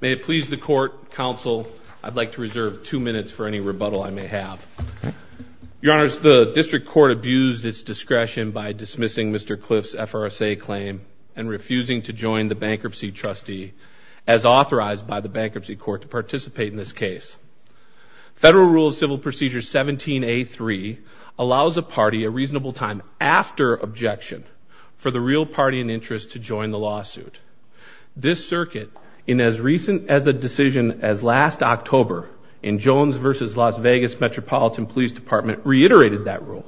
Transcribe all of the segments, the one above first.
May it please the Court, Counsel, I'd like to reserve two minutes for any rebuttal I may have. Your Honors, the District Court abused its discretion by dismissing Mr. Clift's FRSA claim and refusing to join the Bankruptcy Trustee as authorized by the Bankruptcy Court to participate in this case. Federal Rule of Civil Procedure 17A3 allows a party a reasonable time after objection for the real party in interest to join the lawsuit. This circuit, in as recent as a decision as last October in Jones v. Las Vegas Metropolitan Police Department reiterated that rule,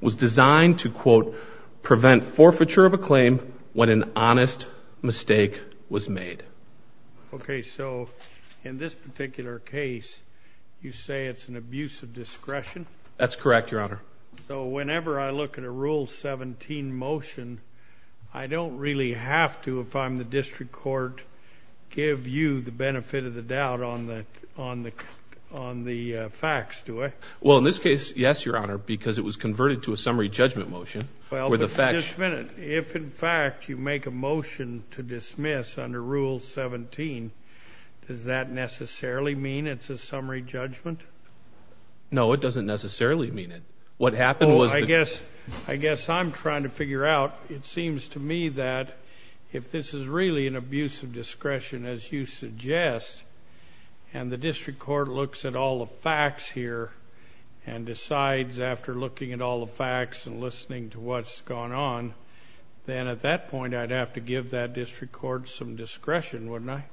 was designed to, quote, prevent forfeiture of a claim when an honest mistake was made. Okay, so in this particular case you say it's an abuse of discretion? That's correct, Your Honor. So whenever I look at a Rule 17 motion, I don't really have to, if I'm the District Court, give you the benefit of the doubt on the facts, do I? Well, in this case, yes, Your Honor, because it was converted to a summary judgment motion. If, in fact, you make a motion to dismiss under Rule 17, does that necessarily mean it's a summary judgment? No, it doesn't necessarily mean it. What happened was... I guess I'm trying to figure out, it seems to me that if this is really an abuse of discretion, as you suggest, and the District Court looks at all the facts here and decides after looking at all the facts and listening to what's gone on, then at that point I'd have to give that District Court some discretion, wouldn't I?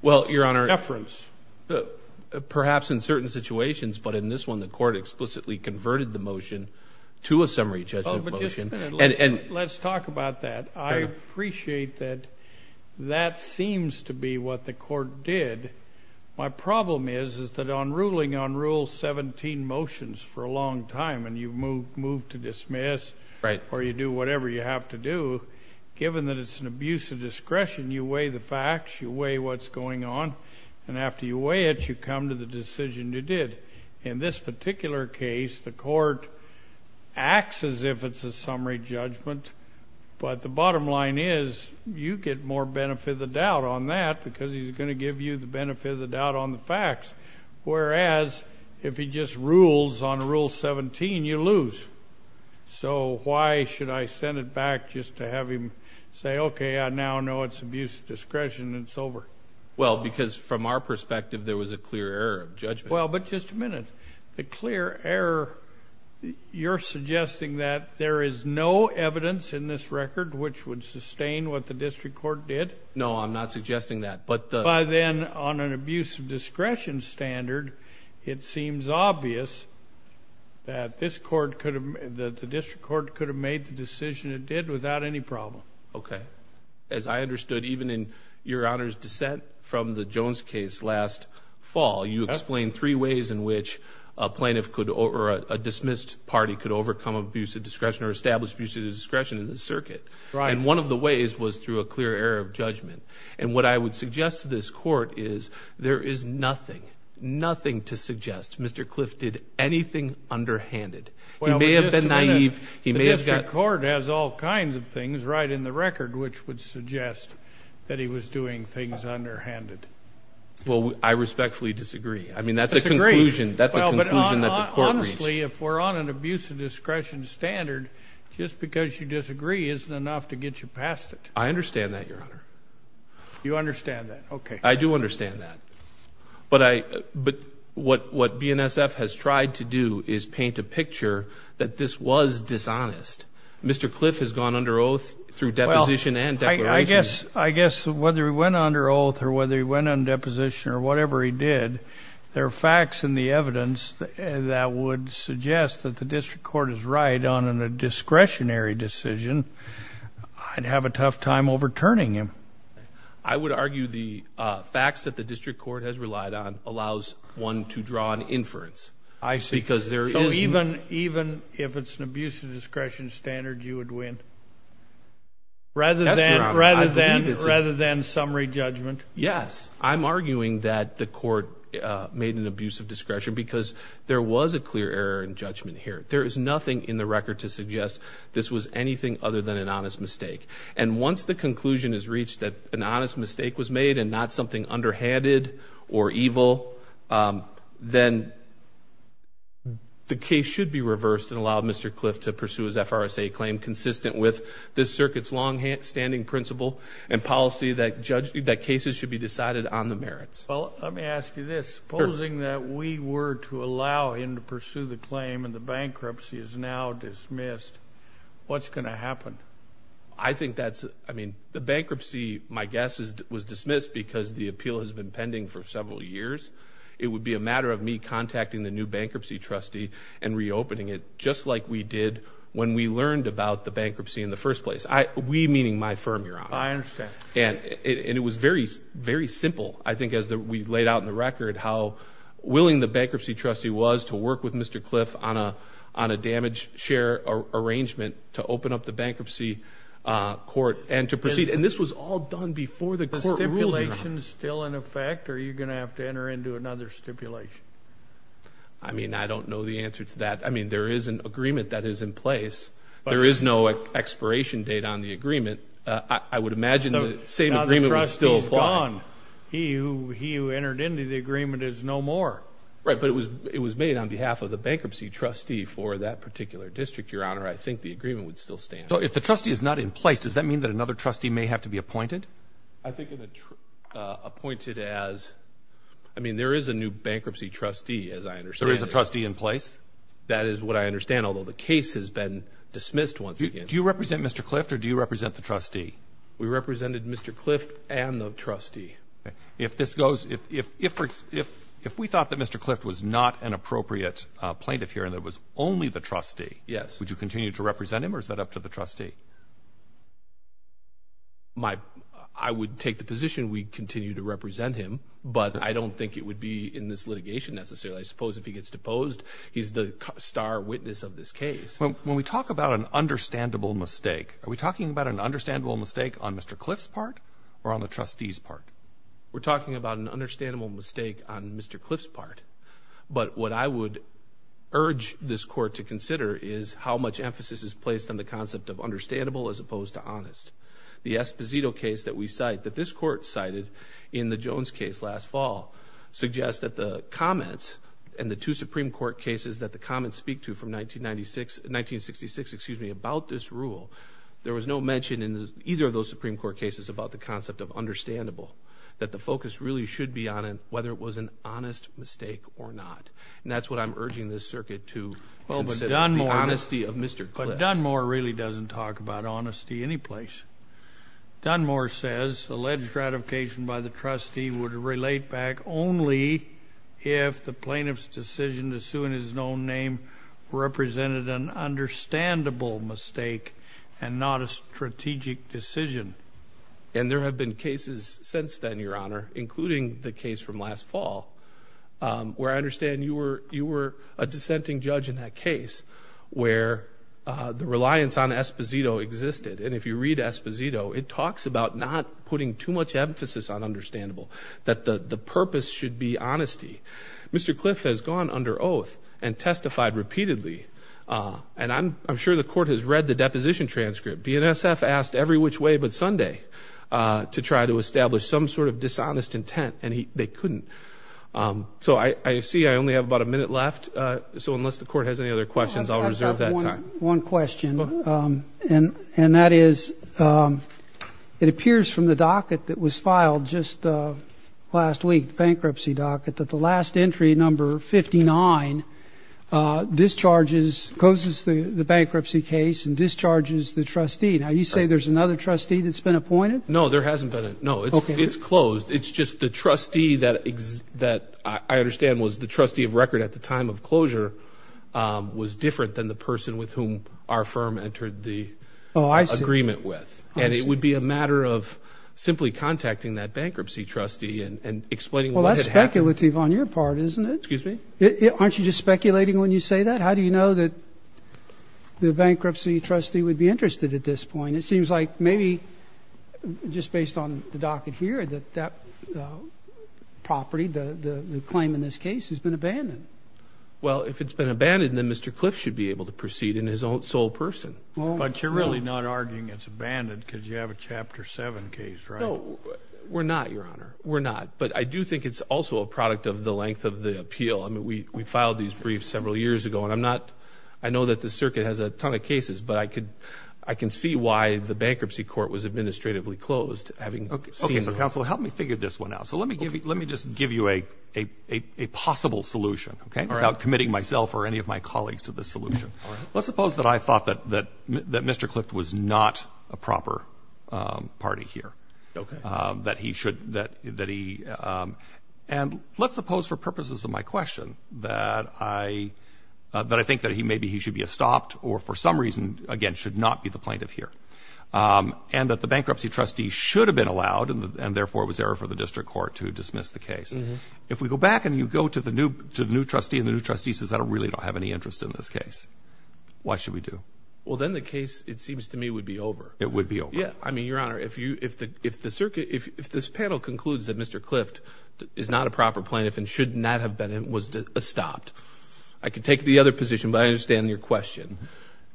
Well, Your Honor... But in this one, the Court explicitly converted the motion to a summary judgment motion. Oh, but just a minute. Let's talk about that. I appreciate that that seems to be what the Court did. My problem is that on ruling on Rule 17 motions for a long time, and you move to dismiss or you do whatever you have to do, given that it's an abuse of discretion, you weigh the facts, you weigh what's going on, and after you weigh it, you come to the decision you did. In this particular case, the Court acts as if it's a summary judgment, but the bottom line is you get more benefit of the doubt on that because he's going to give you the benefit of the doubt on the facts, whereas if he just rules on Rule 17, you lose. So why should I send it back just to have him say, okay, I now know it's abuse of discretion, it's over? Well, because from our perspective, there was a clear error of judgment. Well, but just a minute. The clear error, you're suggesting that there is no evidence in this record which would sustain what the District Court did? No, I'm not suggesting that, but the... By then, on an abuse of discretion standard, it seems obvious that the District Court could have made the decision it did without any problem. Okay. As I understood, even in Your Honor's dissent from the Jones case last fall, you explained three ways in which a plaintiff could, or a dismissed party, could overcome abuse of discretion or establish abuse of discretion in the circuit, and one of the ways was through a clear error of judgment, and what I would suggest to this Court is there is nothing, nothing to suggest Mr. Clift did anything underhanded. He may have been naive, he may write in the record which would suggest that he was doing things underhanded. Well, I respectfully disagree. I mean, that's a conclusion that the Court reached. Honestly, if we're on an abuse of discretion standard, just because you disagree isn't enough to get you past it. I understand that, Your Honor. You understand that, okay. I do understand that, but what BNSF has tried to do is paint a picture that this was dishonest. Mr. Clift has gone under oath through deposition and declaration. I guess whether he went under oath or whether he went on deposition or whatever he did, there are facts in the evidence that would suggest that the District Court is right on a discretionary decision. I'd have a tough time overturning him. I would argue the facts that I see. So even if it's an abuse of discretion standard, you would win, rather than summary judgment? Yes. I'm arguing that the Court made an abuse of discretion because there was a clear error in judgment here. There is nothing in the record to suggest this was anything other than an honest mistake, and once the conclusion is reached that an honest mistake was made and not something underhanded or evil, then the case should be reversed and allowed Mr. Clift to pursue his FRSA claim consistent with this circuit's long-standing principle and policy that cases should be decided on the merits. Well, let me ask you this. Supposing that we were to allow him to pursue the claim and the bankruptcy is now dismissed, what's going to happen? I think that's, I mean, the bankruptcy, my guess is, was dismissed because the appeal has been pending for several years. It would be a matter of me contacting the new bankruptcy trustee and reopening it just like we did when we learned about the bankruptcy in the first place. We meaning my firm, Your Honor. I understand. And it was very, very simple. I think as we laid out in the record how willing the bankruptcy trustee was to work with Mr. Clift on a damage share arrangement to open up the bankruptcy court and to proceed, and this was all done before the court ruled. Is the stipulation still in effect or are you going to have to enter into another stipulation? I mean, I don't know the answer to that. I mean, there is an agreement that is in place. There is no expiration date on the agreement. I would imagine the same agreement would still apply. He who entered into the agreement is no more. Right, but it was made on behalf of the bankruptcy trustee for that particular district, Your Honor. I think the agreement would still stand. So if the trustee is not in place, does that mean that another trustee may have to be appointed? I think appointed as I mean, there is a new bankruptcy trustee. As I understand, there is a trustee in place. That is what I understand, although the case has been dismissed. Once again, do you represent Mr. Clift or do you represent the trustee? We represented Mr. Clift and the trustee. If this goes, if if if if we thought that Mr. Clift was not an appropriate plaintiff here and that was only the trustee. Yes. Would you continue to represent him or is that up to the trustee? My I would take the position we continue to represent him, but I don't think it would be in this litigation necessarily. I suppose if he gets deposed, he's the star witness of this case. When we talk about an understandable mistake, are we talking about an understandable mistake on Mr. Clift's part or on the trustee's part? We're talking about an understandable mistake on Mr. Clift's part. But what I would urge this court to consider is how much emphasis is placed on the concept of understandable as opposed to honest. The Esposito case that we cite that this court cited in the Jones case last fall suggests that the comments and the two Supreme Court cases that the comments speak to from 1996 1966, excuse me, about this rule. There was no mention in either of those Supreme Court cases about the concept of understandable, that the focus really should be on whether it was an honest mistake or not. And that's what I'm urging this circuit to consider. The honesty of Mr. Clift. But Dunmore really doesn't talk about honesty anyplace. Dunmore says alleged ratification by the trustee would relate back only if the plaintiff's decision to sue in his known name represented an understandable mistake and not a strategic decision. And there have been cases since then, Your Honor, including the case from last fall, where I understand you were you were a dissenting judge in that case where the reliance on Esposito existed. And if you read Esposito, it talks about not putting too much emphasis on understandable, that the purpose should be honesty. Mr. Clift has gone under oath and testified repeatedly. And I'm sure the court has read the deposition transcript. BNSF asked every which way but Sunday to try to establish some sort of dishonest intent. And they couldn't. So I see I only have about a minute left. So unless the court has any other questions, I'll reserve that time. One question. And that is, it appears from the docket that was filed just last week, bankruptcy docket, that the last entry number 59 discharges, closes the bankruptcy case and discharges the trustee. Now, you say there's another trustee that's been appointed? No, there hasn't been. No, it's closed. It's just the trustee that that I understand was the trustee of record at the time of closure was different than the person with whom our firm entered the agreement with. And it would be a matter of simply contacting that bankruptcy trustee and explaining what had happened. That's speculative on your part, isn't it? Aren't you just speculating when you say that? How do you know that the bankruptcy trustee would be interested at this point? It seems like maybe just based on the docket here that that property, the claim in this case has been abandoned. Well, if it's been abandoned, then Mr. Clift should be able to really not arguing it's abandoned because you have a chapter seven case, right? No, we're not, your honor. We're not. But I do think it's also a product of the length of the appeal. I mean, we, we filed these briefs several years ago and I'm not, I know that the circuit has a ton of cases, but I could, I can see why the bankruptcy court was administratively closed. Having seen the counsel, help me figure this one out. So let me give you, let me just give you a, a, a, a possible solution without committing myself or any of my colleagues to the solution. Let's suppose that I thought that, that, that Mr. Clift was not a proper, um, party here. Okay. Um, that he should, that, that he, um, and let's suppose for purposes of my question that I, uh, that I think that he, maybe he should be a stopped or for some reason again, should not be the plaintiff here. Um, and that the bankruptcy trustee should have been allowed and therefore it was error for the district court to dismiss the case. If we go back and you go to the new, to the new trustee and the new trustee says, I don't really don't have any interest in this case. Why should we do? Well, then the case, it seems to me would be over. It would be over. Yeah. I mean, Your Honor, if you, if the, if the circuit, if, if this panel concludes that Mr. Clift is not a proper plaintiff and should not have been, it was a stopped, I could take the other position, but I understand your question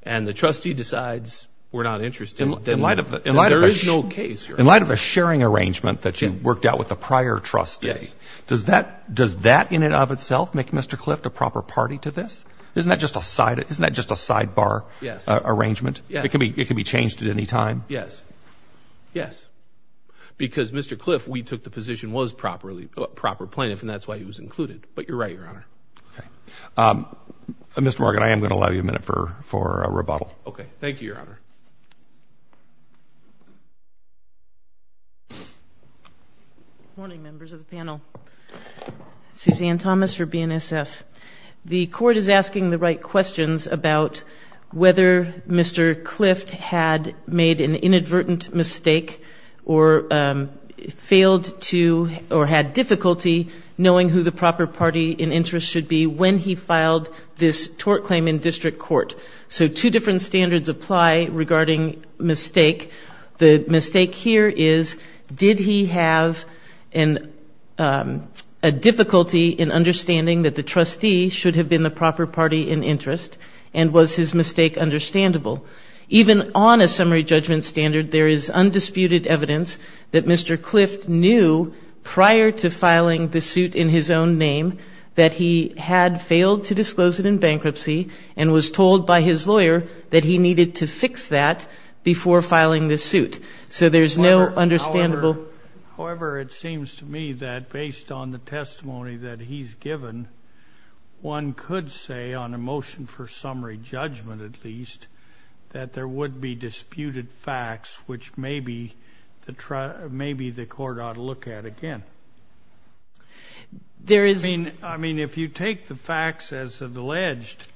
and the trustee decides we're not interested. In light of, there is no case here. In light of a sharing arrangement that you worked out with the prior trustee, does that, does that in and of itself make Mr. Clift a proper party to this? Isn't that just a side? Isn't that just a sidebar? Yes. Arrangement. It can be, it can be changed at any time. Yes. Yes. Because Mr. Clift, we took the position was properly proper plaintiff and that's why he was included, but you're right, Your Honor. Okay. Um, Mr. Morgan, I am going to allow you a minute for, for a rebuttal. Okay. Thank you, Your Honor. Good morning, members of the panel. Suzanne Thomas for BNSF. The court is asking the right questions about whether Mr. Clift had made an inadvertent mistake or, um, failed to, or had difficulty knowing who the proper party in interest should be when he filed this tort claim in district court. So two different standards apply regarding mistakes in district court. The mistake here is, did he have an, um, a difficulty in understanding that the trustee should have been the proper party in interest and was his mistake understandable? Even on a summary judgment standard, there is undisputed evidence that Mr. Clift knew prior to filing the suit in his own name that he had failed to disclose it in bankruptcy and was told by his lawyer that he needed to fix that before filing the suit. So there's no understandable. However, it seems to me that based on the testimony that he's given, one could say on a motion for summary judgment, at least, that there would be disputed facts, which may be the, maybe the court ought to look at again. There is, I mean, if you take the facts as alleged,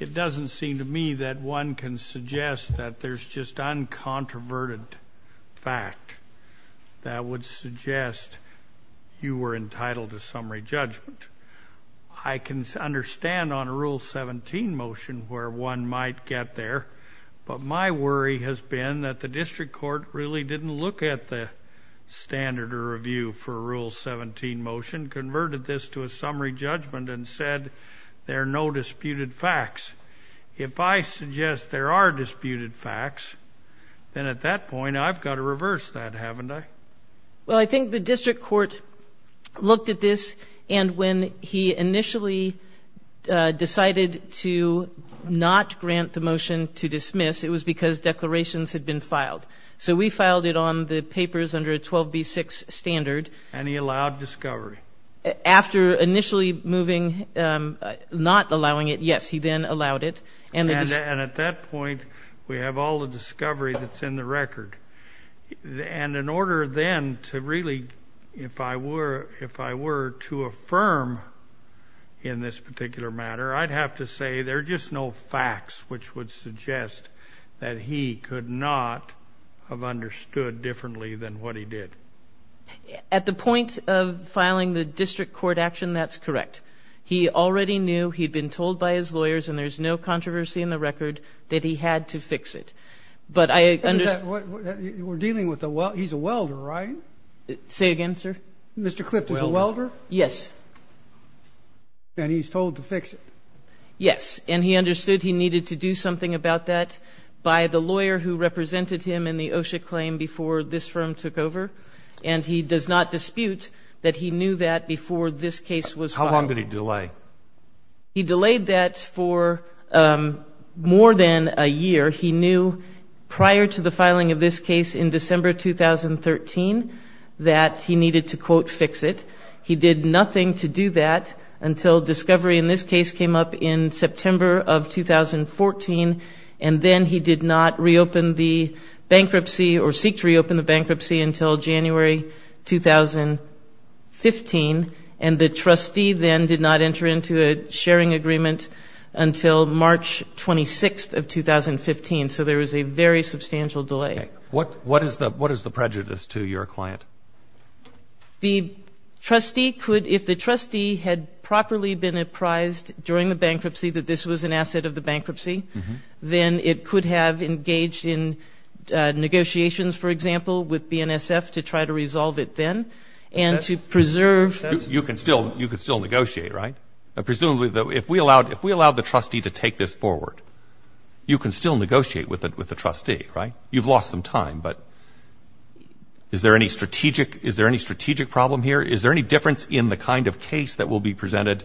it doesn't seem to me that one can suggest that there's just uncontroverted fact that would suggest you were entitled to summary judgment. I can understand on a Rule 17 motion where one might get there, but my worry has been that the district court really didn't look at the standard or review for a Rule 17 motion, converted this to a summary judgment, and said there are no disputed facts. If I suggest there are disputed facts, then at that point I've got to reverse that, haven't I? Well, I think the district court looked at this, and when he initially decided to not grant the motion to dismiss, it was because declarations had been filed. So we filed it on the papers under a 12b6 standard. And he allowed discovery. After initially moving, not allowing it, yes, he then allowed it. And at that point we have all the discovery that's in the record. And in order then to really, if I were, if I were to affirm in this particular matter, I'd have to say there are just no facts which would suggest that he could not have understood differently than what he did. At the point of filing the district court action, that's correct. He already knew, he'd been told by his lawyers, and there's no controversy in the record, that he had to fix it. But I understand... We're dealing with a welder, he's a welder, right? Say again, sir? Mr. Clift is a welder? Yes. And he's told to fix it? Yes, and he understood he needed to do something about that by the lawyer who represented him in the OSHA claim before this firm took over. And he does not dispute that he knew that before this case was filed. How long did he delay? He delayed that for more than a year. He knew prior to the filing of this case in December 2013 that he needed to, quote, and then he did not reopen the bankruptcy or seek to reopen the bankruptcy until January 2015. And the trustee then did not enter into a sharing agreement until March 26th of 2015. So there was a very substantial delay. What, what is the, what is the prejudice to your client? The trustee could, if the trustee had properly been apprised during the bankruptcy that this was an asset of the bankruptcy, then it could have engaged in negotiations, for example, with BNSF to try to resolve it then and to preserve... You can still, you could still negotiate, right? Presumably though, if we allowed, if we allowed the trustee to take this forward, you can still negotiate with the, with the trustee, right? You've lost some time, but is there any strategic, is there any strategic problem here? Is there any difference in the kind of case that will be presented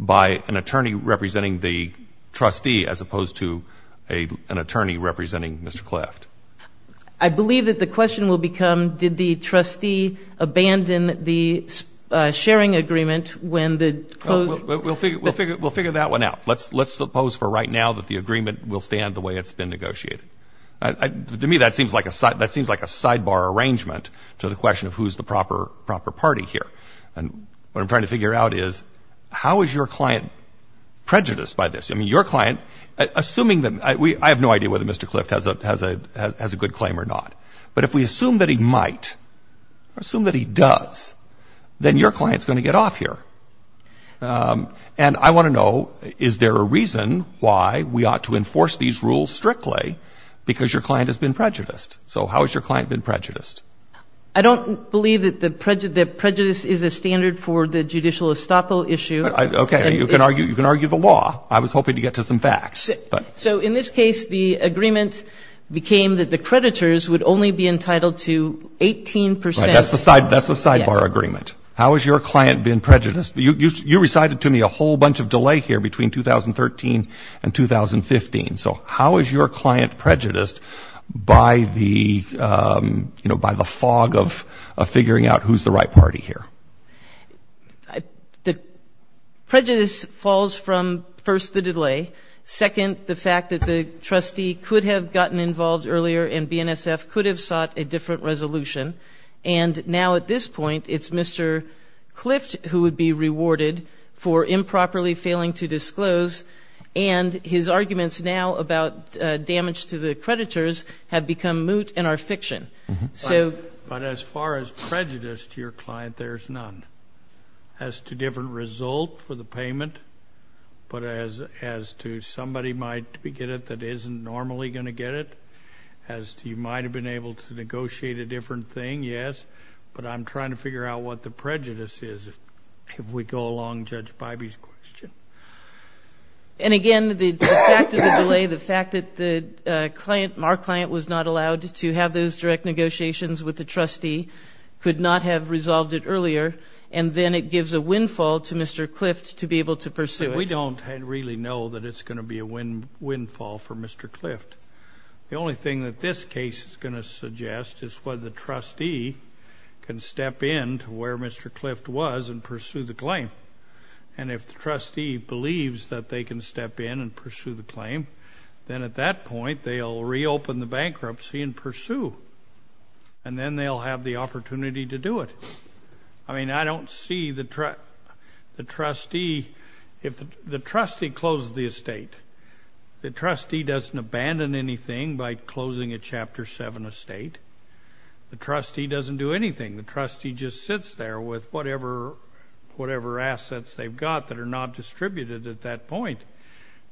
by an attorney representing the trustee as opposed to a, an attorney representing Mr. Clift? I believe that the question will become, did the trustee abandon the sharing agreement when the... We'll figure, we'll figure, we'll figure that one out. Let's, let's suppose for right now that the agreement will stand the way it's been negotiated. To me, that seems like a side, that seems like a sidebar arrangement to the question of who's the proper, proper party here. And what I'm trying to figure out is, how is your client prejudiced by this? I mean, your client, assuming that we, I have no idea whether Mr. Clift has a, has a, has a good claim or not, but if we assume that he might, assume that he does, then your client's going to get off here. And I want to know, is there a reason why we ought to enforce these rules strictly because your client has been prejudiced? So how has your client been prejudiced? I don't believe that the prejudice, that prejudice is a standard for the judicial estoppel issue. Okay. You can argue, you can argue the law. I was hoping to get to some facts. So in this case, the agreement became that the creditors would only be entitled to 18%. That's the side, that's the sidebar agreement. How has your client been prejudiced? You, you, you recited to me a whole bunch of delay here between 2013 and 2015. So how is your client prejudiced by the, you know, by the fog of, of figuring out who's the right party here? I, the prejudice falls from first, the delay. Second, the fact that the trustee could have gotten involved earlier and BNSF could have sought a different resolution. And now at this point, it's Mr. Clift who would be rewarded for improperly failing to disclose. And his arguments now about damage to the creditors have become moot and are fiction. So, but as far as prejudice to your client, there's none. As to different result for the payment, but as, as to somebody might get it that isn't normally going to get it, as to you might have been able to negotiate a different thing, yes. But I'm trying to figure out what the prejudice is if we go along Judge Bybee's question. And again, the fact of the delay, the fact that the client, our client was not allowed to have those direct negotiations with the trustee, could not have resolved it earlier, and then it gives a windfall to Mr. Clift to be able to pursue it. We don't really know that it's going to be a wind, windfall for Mr. Clift. The only thing that this case is going to suggest is whether the trustee can step in to where Mr. Clift was and pursue the claim. And if the trustee believes that they can and pursue, and then they'll have the opportunity to do it. I mean, I don't see the trustee, if the trustee closes the estate, the trustee doesn't abandon anything by closing a Chapter 7 estate. The trustee doesn't do anything. The trustee just sits there with whatever, whatever assets they've got that are not distributed at that point.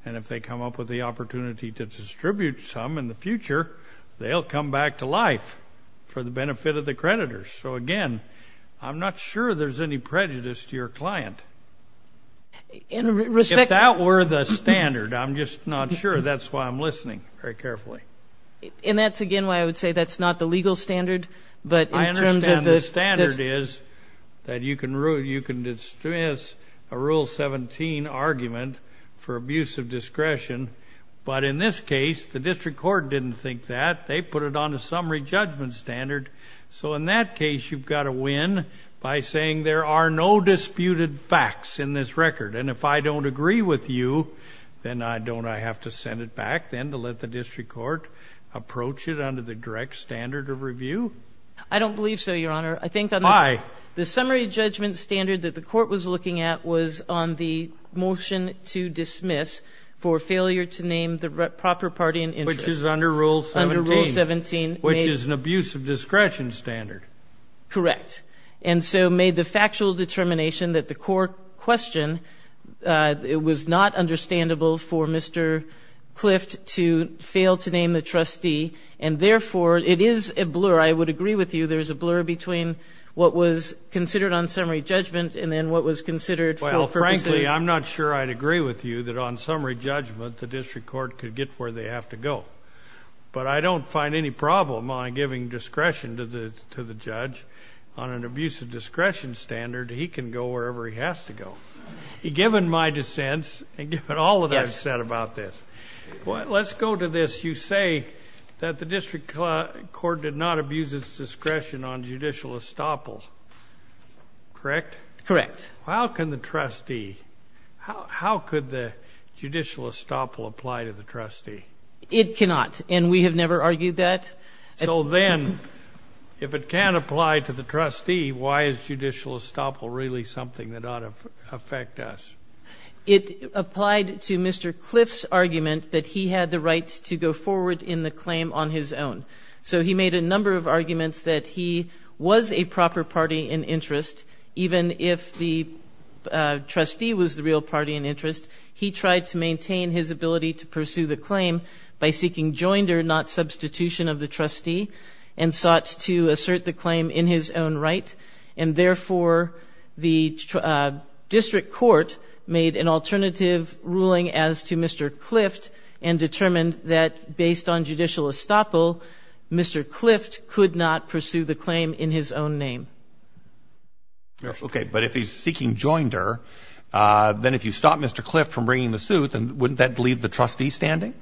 And if they come up with the opportunity to distribute some in the future, they'll come back to life for the benefit of the creditors. So again, I'm not sure there's any prejudice to your client. If that were the standard, I'm just not sure. That's why I'm listening very carefully. And that's, again, why I would say that's not the legal standard. But I understand the standard is that you can pass a Rule 17 argument for abuse of discretion. But in this case, the district court didn't think that. They put it on a summary judgment standard. So in that case, you've got to win by saying there are no disputed facts in this record. And if I don't agree with you, then don't I have to send it back then to let the district court approach it under the direct standard of review? I don't know. The summary judgment standard that the court was looking at was on the motion to dismiss for failure to name the proper party in interest. Which is under Rule 17. Under Rule 17. Which is an abuse of discretion standard. Correct. And so made the factual determination that the court question, it was not understandable for Mr. Clift to fail to name the trustee. And therefore, it is a blur. I would agree with you. There's a blur between what was considered on summary judgment and then what was considered... Well, frankly, I'm not sure I'd agree with you that on summary judgment, the district court could get where they have to go. But I don't find any problem on giving discretion to the judge on an abuse of discretion standard. He can go wherever he has to go. Given my dissents and given all that I've said about this. Let's go to this. You say that the district court did not abuse its discretion on judicial estoppel. Correct? Correct. How can the trustee... How could the judicial estoppel apply to the trustee? It cannot. And we have never argued that. So then, if it can't apply to the trustee, why is judicial estoppel really something that ought to affect us? It applied to Mr. Clift's claim on his own. So he made a number of arguments that he was a proper party in interest. Even if the trustee was the real party in interest, he tried to maintain his ability to pursue the claim by seeking joinder, not substitution of the trustee, and sought to assert the claim in his own right. And therefore, the district court made an alternative ruling as to Mr. Clift and determined that based on judicial estoppel, Mr. Clift could not pursue the claim in his own name. Okay. But if he's seeking joinder, then if you stop Mr. Clift from bringing the suit, wouldn't that leave the trustee standing?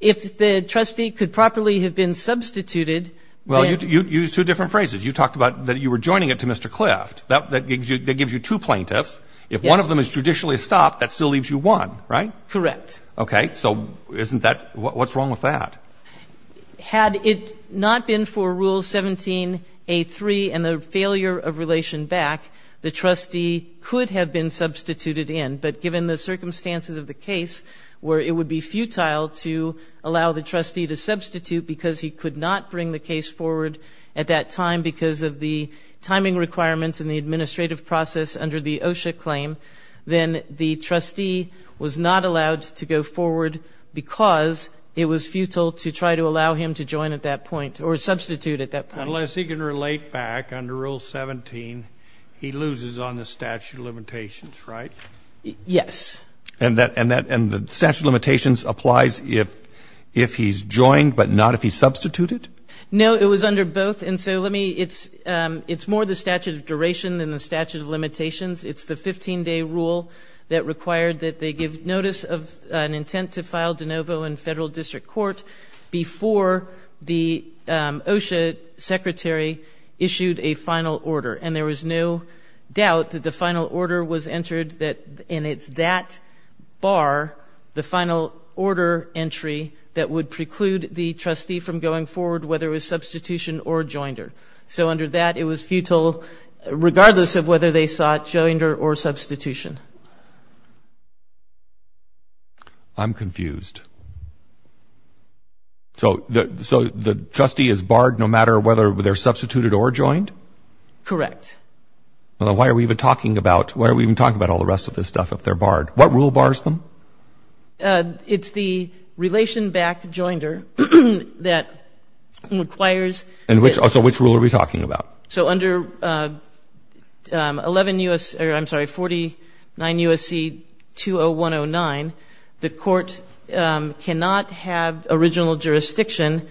If the trustee could properly have been substituted... Well, you used two different phrases. You talked about that you were joining it to Mr. Clift. That gives you two plaintiffs. If one of them is judicially estopped, that still leaves you one, right? Correct. Okay. So what's wrong with that? Had it not been for Rule 17A3 and the failure of relation back, the trustee could have been substituted in. But given the circumstances of the case where it would be futile to allow the trustee to substitute because he could not bring the case forward at that time because of the timing requirements and the administrative process under the OSHA claim, then the trustee was not allowed to go forward because it was futile to try to allow him to join at that point or substitute at that point. Unless he can relate back under Rule 17, he loses on the statute of limitations, right? Yes. And the statute of limitations applies if he's joined, but not if he's substituted? No, it was under both. And so let It's more the statute of duration than the statute of limitations. It's the 15-day rule that required that they give notice of an intent to file de novo in federal district court before the OSHA secretary issued a final order. And there was no doubt that the final order was entered and it's that bar, the final order entry, that would preclude the trustee from going forward whether it was substitution or joinder. So under that, it was futile regardless of whether they sought joinder or substitution. I'm confused. So the trustee is barred no matter whether they're substituted or joined? Correct. Why are we even talking about all the rest of this stuff if they're It's the relation back joinder that requires... And so which rule are we talking about? So under 49 U.S.C. 20109, the court cannot have original jurisdiction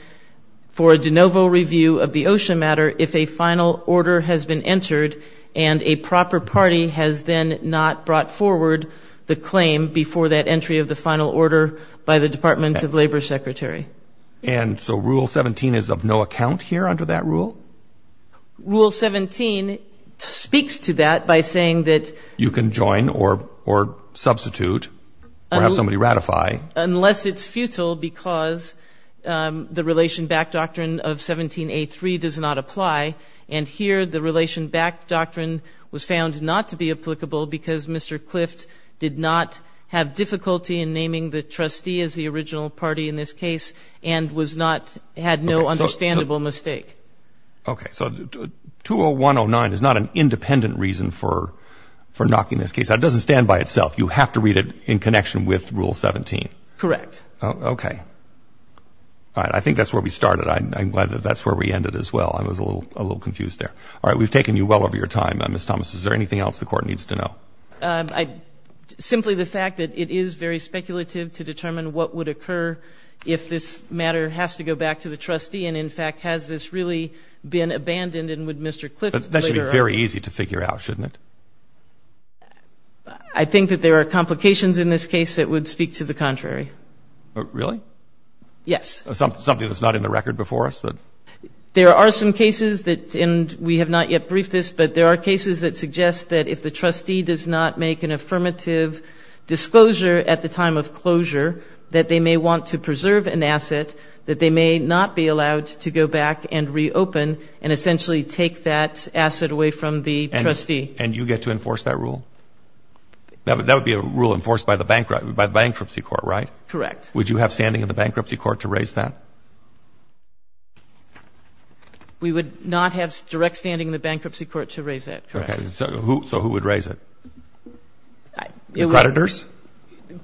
for a de novo review of the OSHA matter if a final order has been entered and a proper party has then not brought forward the claim before that entry of the final order by the Department of Labor secretary. And so rule 17 is of no account here under that rule? Rule 17 speaks to that by saying that you can join or substitute or have somebody ratify unless it's futile because the relation back doctrine of 17A3 does not apply. And here the relation back doctrine was found not to be did not have difficulty in naming the trustee as the original party in this case and was not had no understandable mistake. Okay. So 20109 is not an independent reason for knocking this case. That doesn't stand by itself. You have to read it in connection with rule 17. Correct. Okay. All right. I think that's where we started. I'm glad that that's where we ended as well. I was a little confused there. All right. We've taken you well over your time. Ms. Thomas, is there anything else the court needs to know? Simply the fact that it is very speculative to determine what would occur if this matter has to go back to the trustee and, in fact, has this really been abandoned and would Mr. Clift later on. That should be very easy to figure out, shouldn't it? I think that there are complications in this case that would speak to the contrary. Really? Yes. Something that's not in the record before us? There are some cases that, and we have not yet briefed this, but there are cases that suggest that if the trustee does not make an affirmative disclosure at the time of closure that they may want to preserve an asset, that they may not be allowed to go back and reopen and essentially take that asset away from the trustee. And you get to enforce that rule? That would be a rule enforced by the bankruptcy court, right? Correct. Would you have standing in the bankruptcy court to raise that? We would not have direct standing in the bankruptcy court to raise that. So who would raise it? The creditors?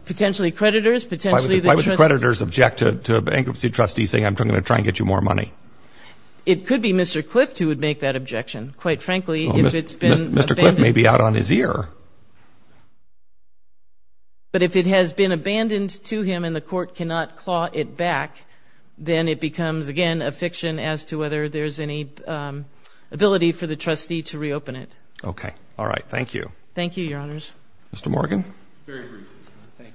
Potentially creditors. Why would creditors object to a bankruptcy trustee saying I'm going to try and get you more money? It could be Mr. Clift who would make that objection, quite frankly. Mr. Clift may be out on his ear. But if it has been abandoned to him and the court cannot claw it back, then it becomes, again, a fiction as to whether there's any ability for the trustee to reopen it. Okay. All right. Thank you. Thank you, Your Honors. Mr. Morgan? Very briefly. Thank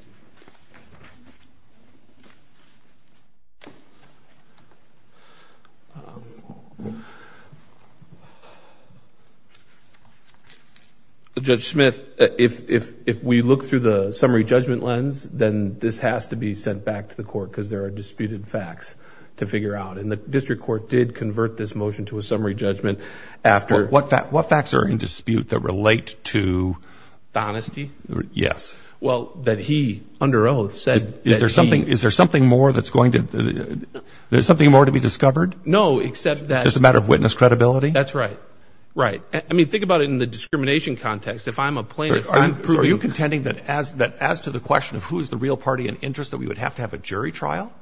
you. Judge Smith, if we look through the summary judgment lens, then this has to be sent back to the court because there are disputed facts to figure out. And the district court did convert this motion to a summary judgment after... What facts are in dispute that relate to... Is there something more that's going to... There's something more to be discovered? No, except that... Just a matter of witness credibility? That's right. Right. I mean, think about it in the discrimination context. If I'm a plaintiff... Are you contending that as to the question of who is the real party in interest that we would have to have a jury trial?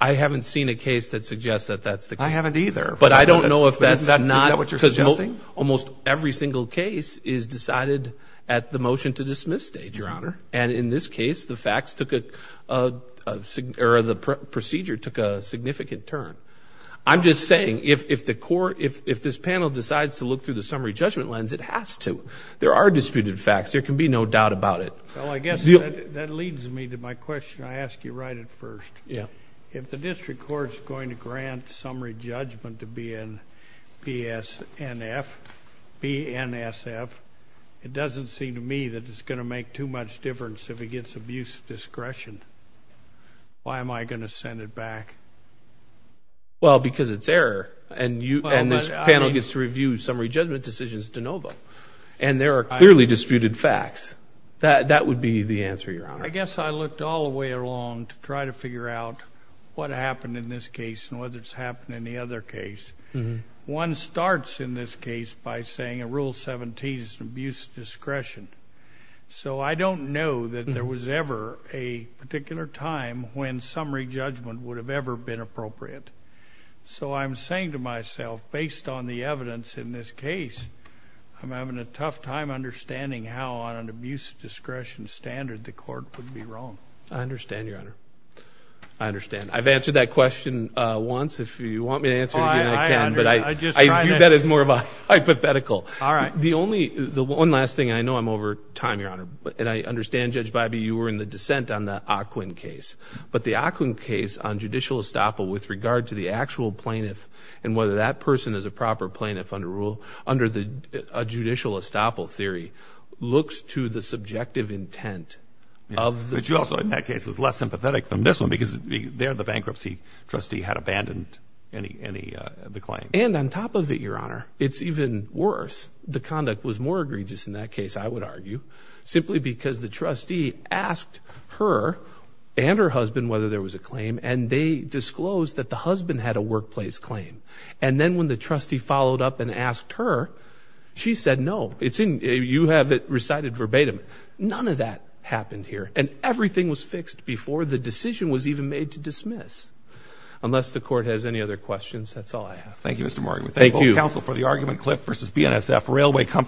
I haven't seen a case that suggests that that's the case. I haven't either. But I don't know if that's not... Is that what you're suggesting? Almost every single case is decided at the motion to dismiss stage, Your Honor. And in this case, the procedure took a significant turn. I'm just saying, if this panel decides to look through the summary judgment lens, it has to. There are disputed facts. There can be no doubt about it. Well, I guess that leads me to my question. I ask you right at first. If the district court's to grant summary judgment to BNSF, it doesn't seem to me that it's going to make too much difference if it gets abuse of discretion. Why am I going to send it back? Well, because it's error. And this panel gets to review summary judgment decisions de novo. And there are clearly disputed facts. That would be the answer, Your Honor. I guess I looked all the way along to try to figure out what happened in this case and whether it's happened in the other case. One starts in this case by saying a Rule 17 is abuse of discretion. So I don't know that there was ever a particular time when summary judgment would have ever been appropriate. So I'm saying to myself, based on the evidence in this case, I'm having a tough time understanding how, on an abuse of discretion standard, the court would be wrong. I understand, Your Honor. I understand. I've answered that question once. If you want me to answer it again, I can. But I view that as more of a hypothetical. The one last thing, I know I'm over time, Your Honor. And I understand, Judge Bybee, you were in the dissent on the Aquin case. But the Aquin case on judicial estoppel with regard to the actual theory looks to the subjective intent of the... Which also in that case was less sympathetic than this one because there the bankruptcy trustee had abandoned any of the claims. And on top of it, Your Honor, it's even worse. The conduct was more egregious in that case, I would argue, simply because the trustee asked her and her husband whether there was a claim. And they disclosed that the husband had a workplace claim. And then when the trustee asked her, she said no. You have it recited verbatim. None of that happened here. And everything was fixed before the decision was even made to dismiss. Unless the court has any other questions, that's all I have. Thank you, Mr. Morgan. Thank you, counsel, for the argument.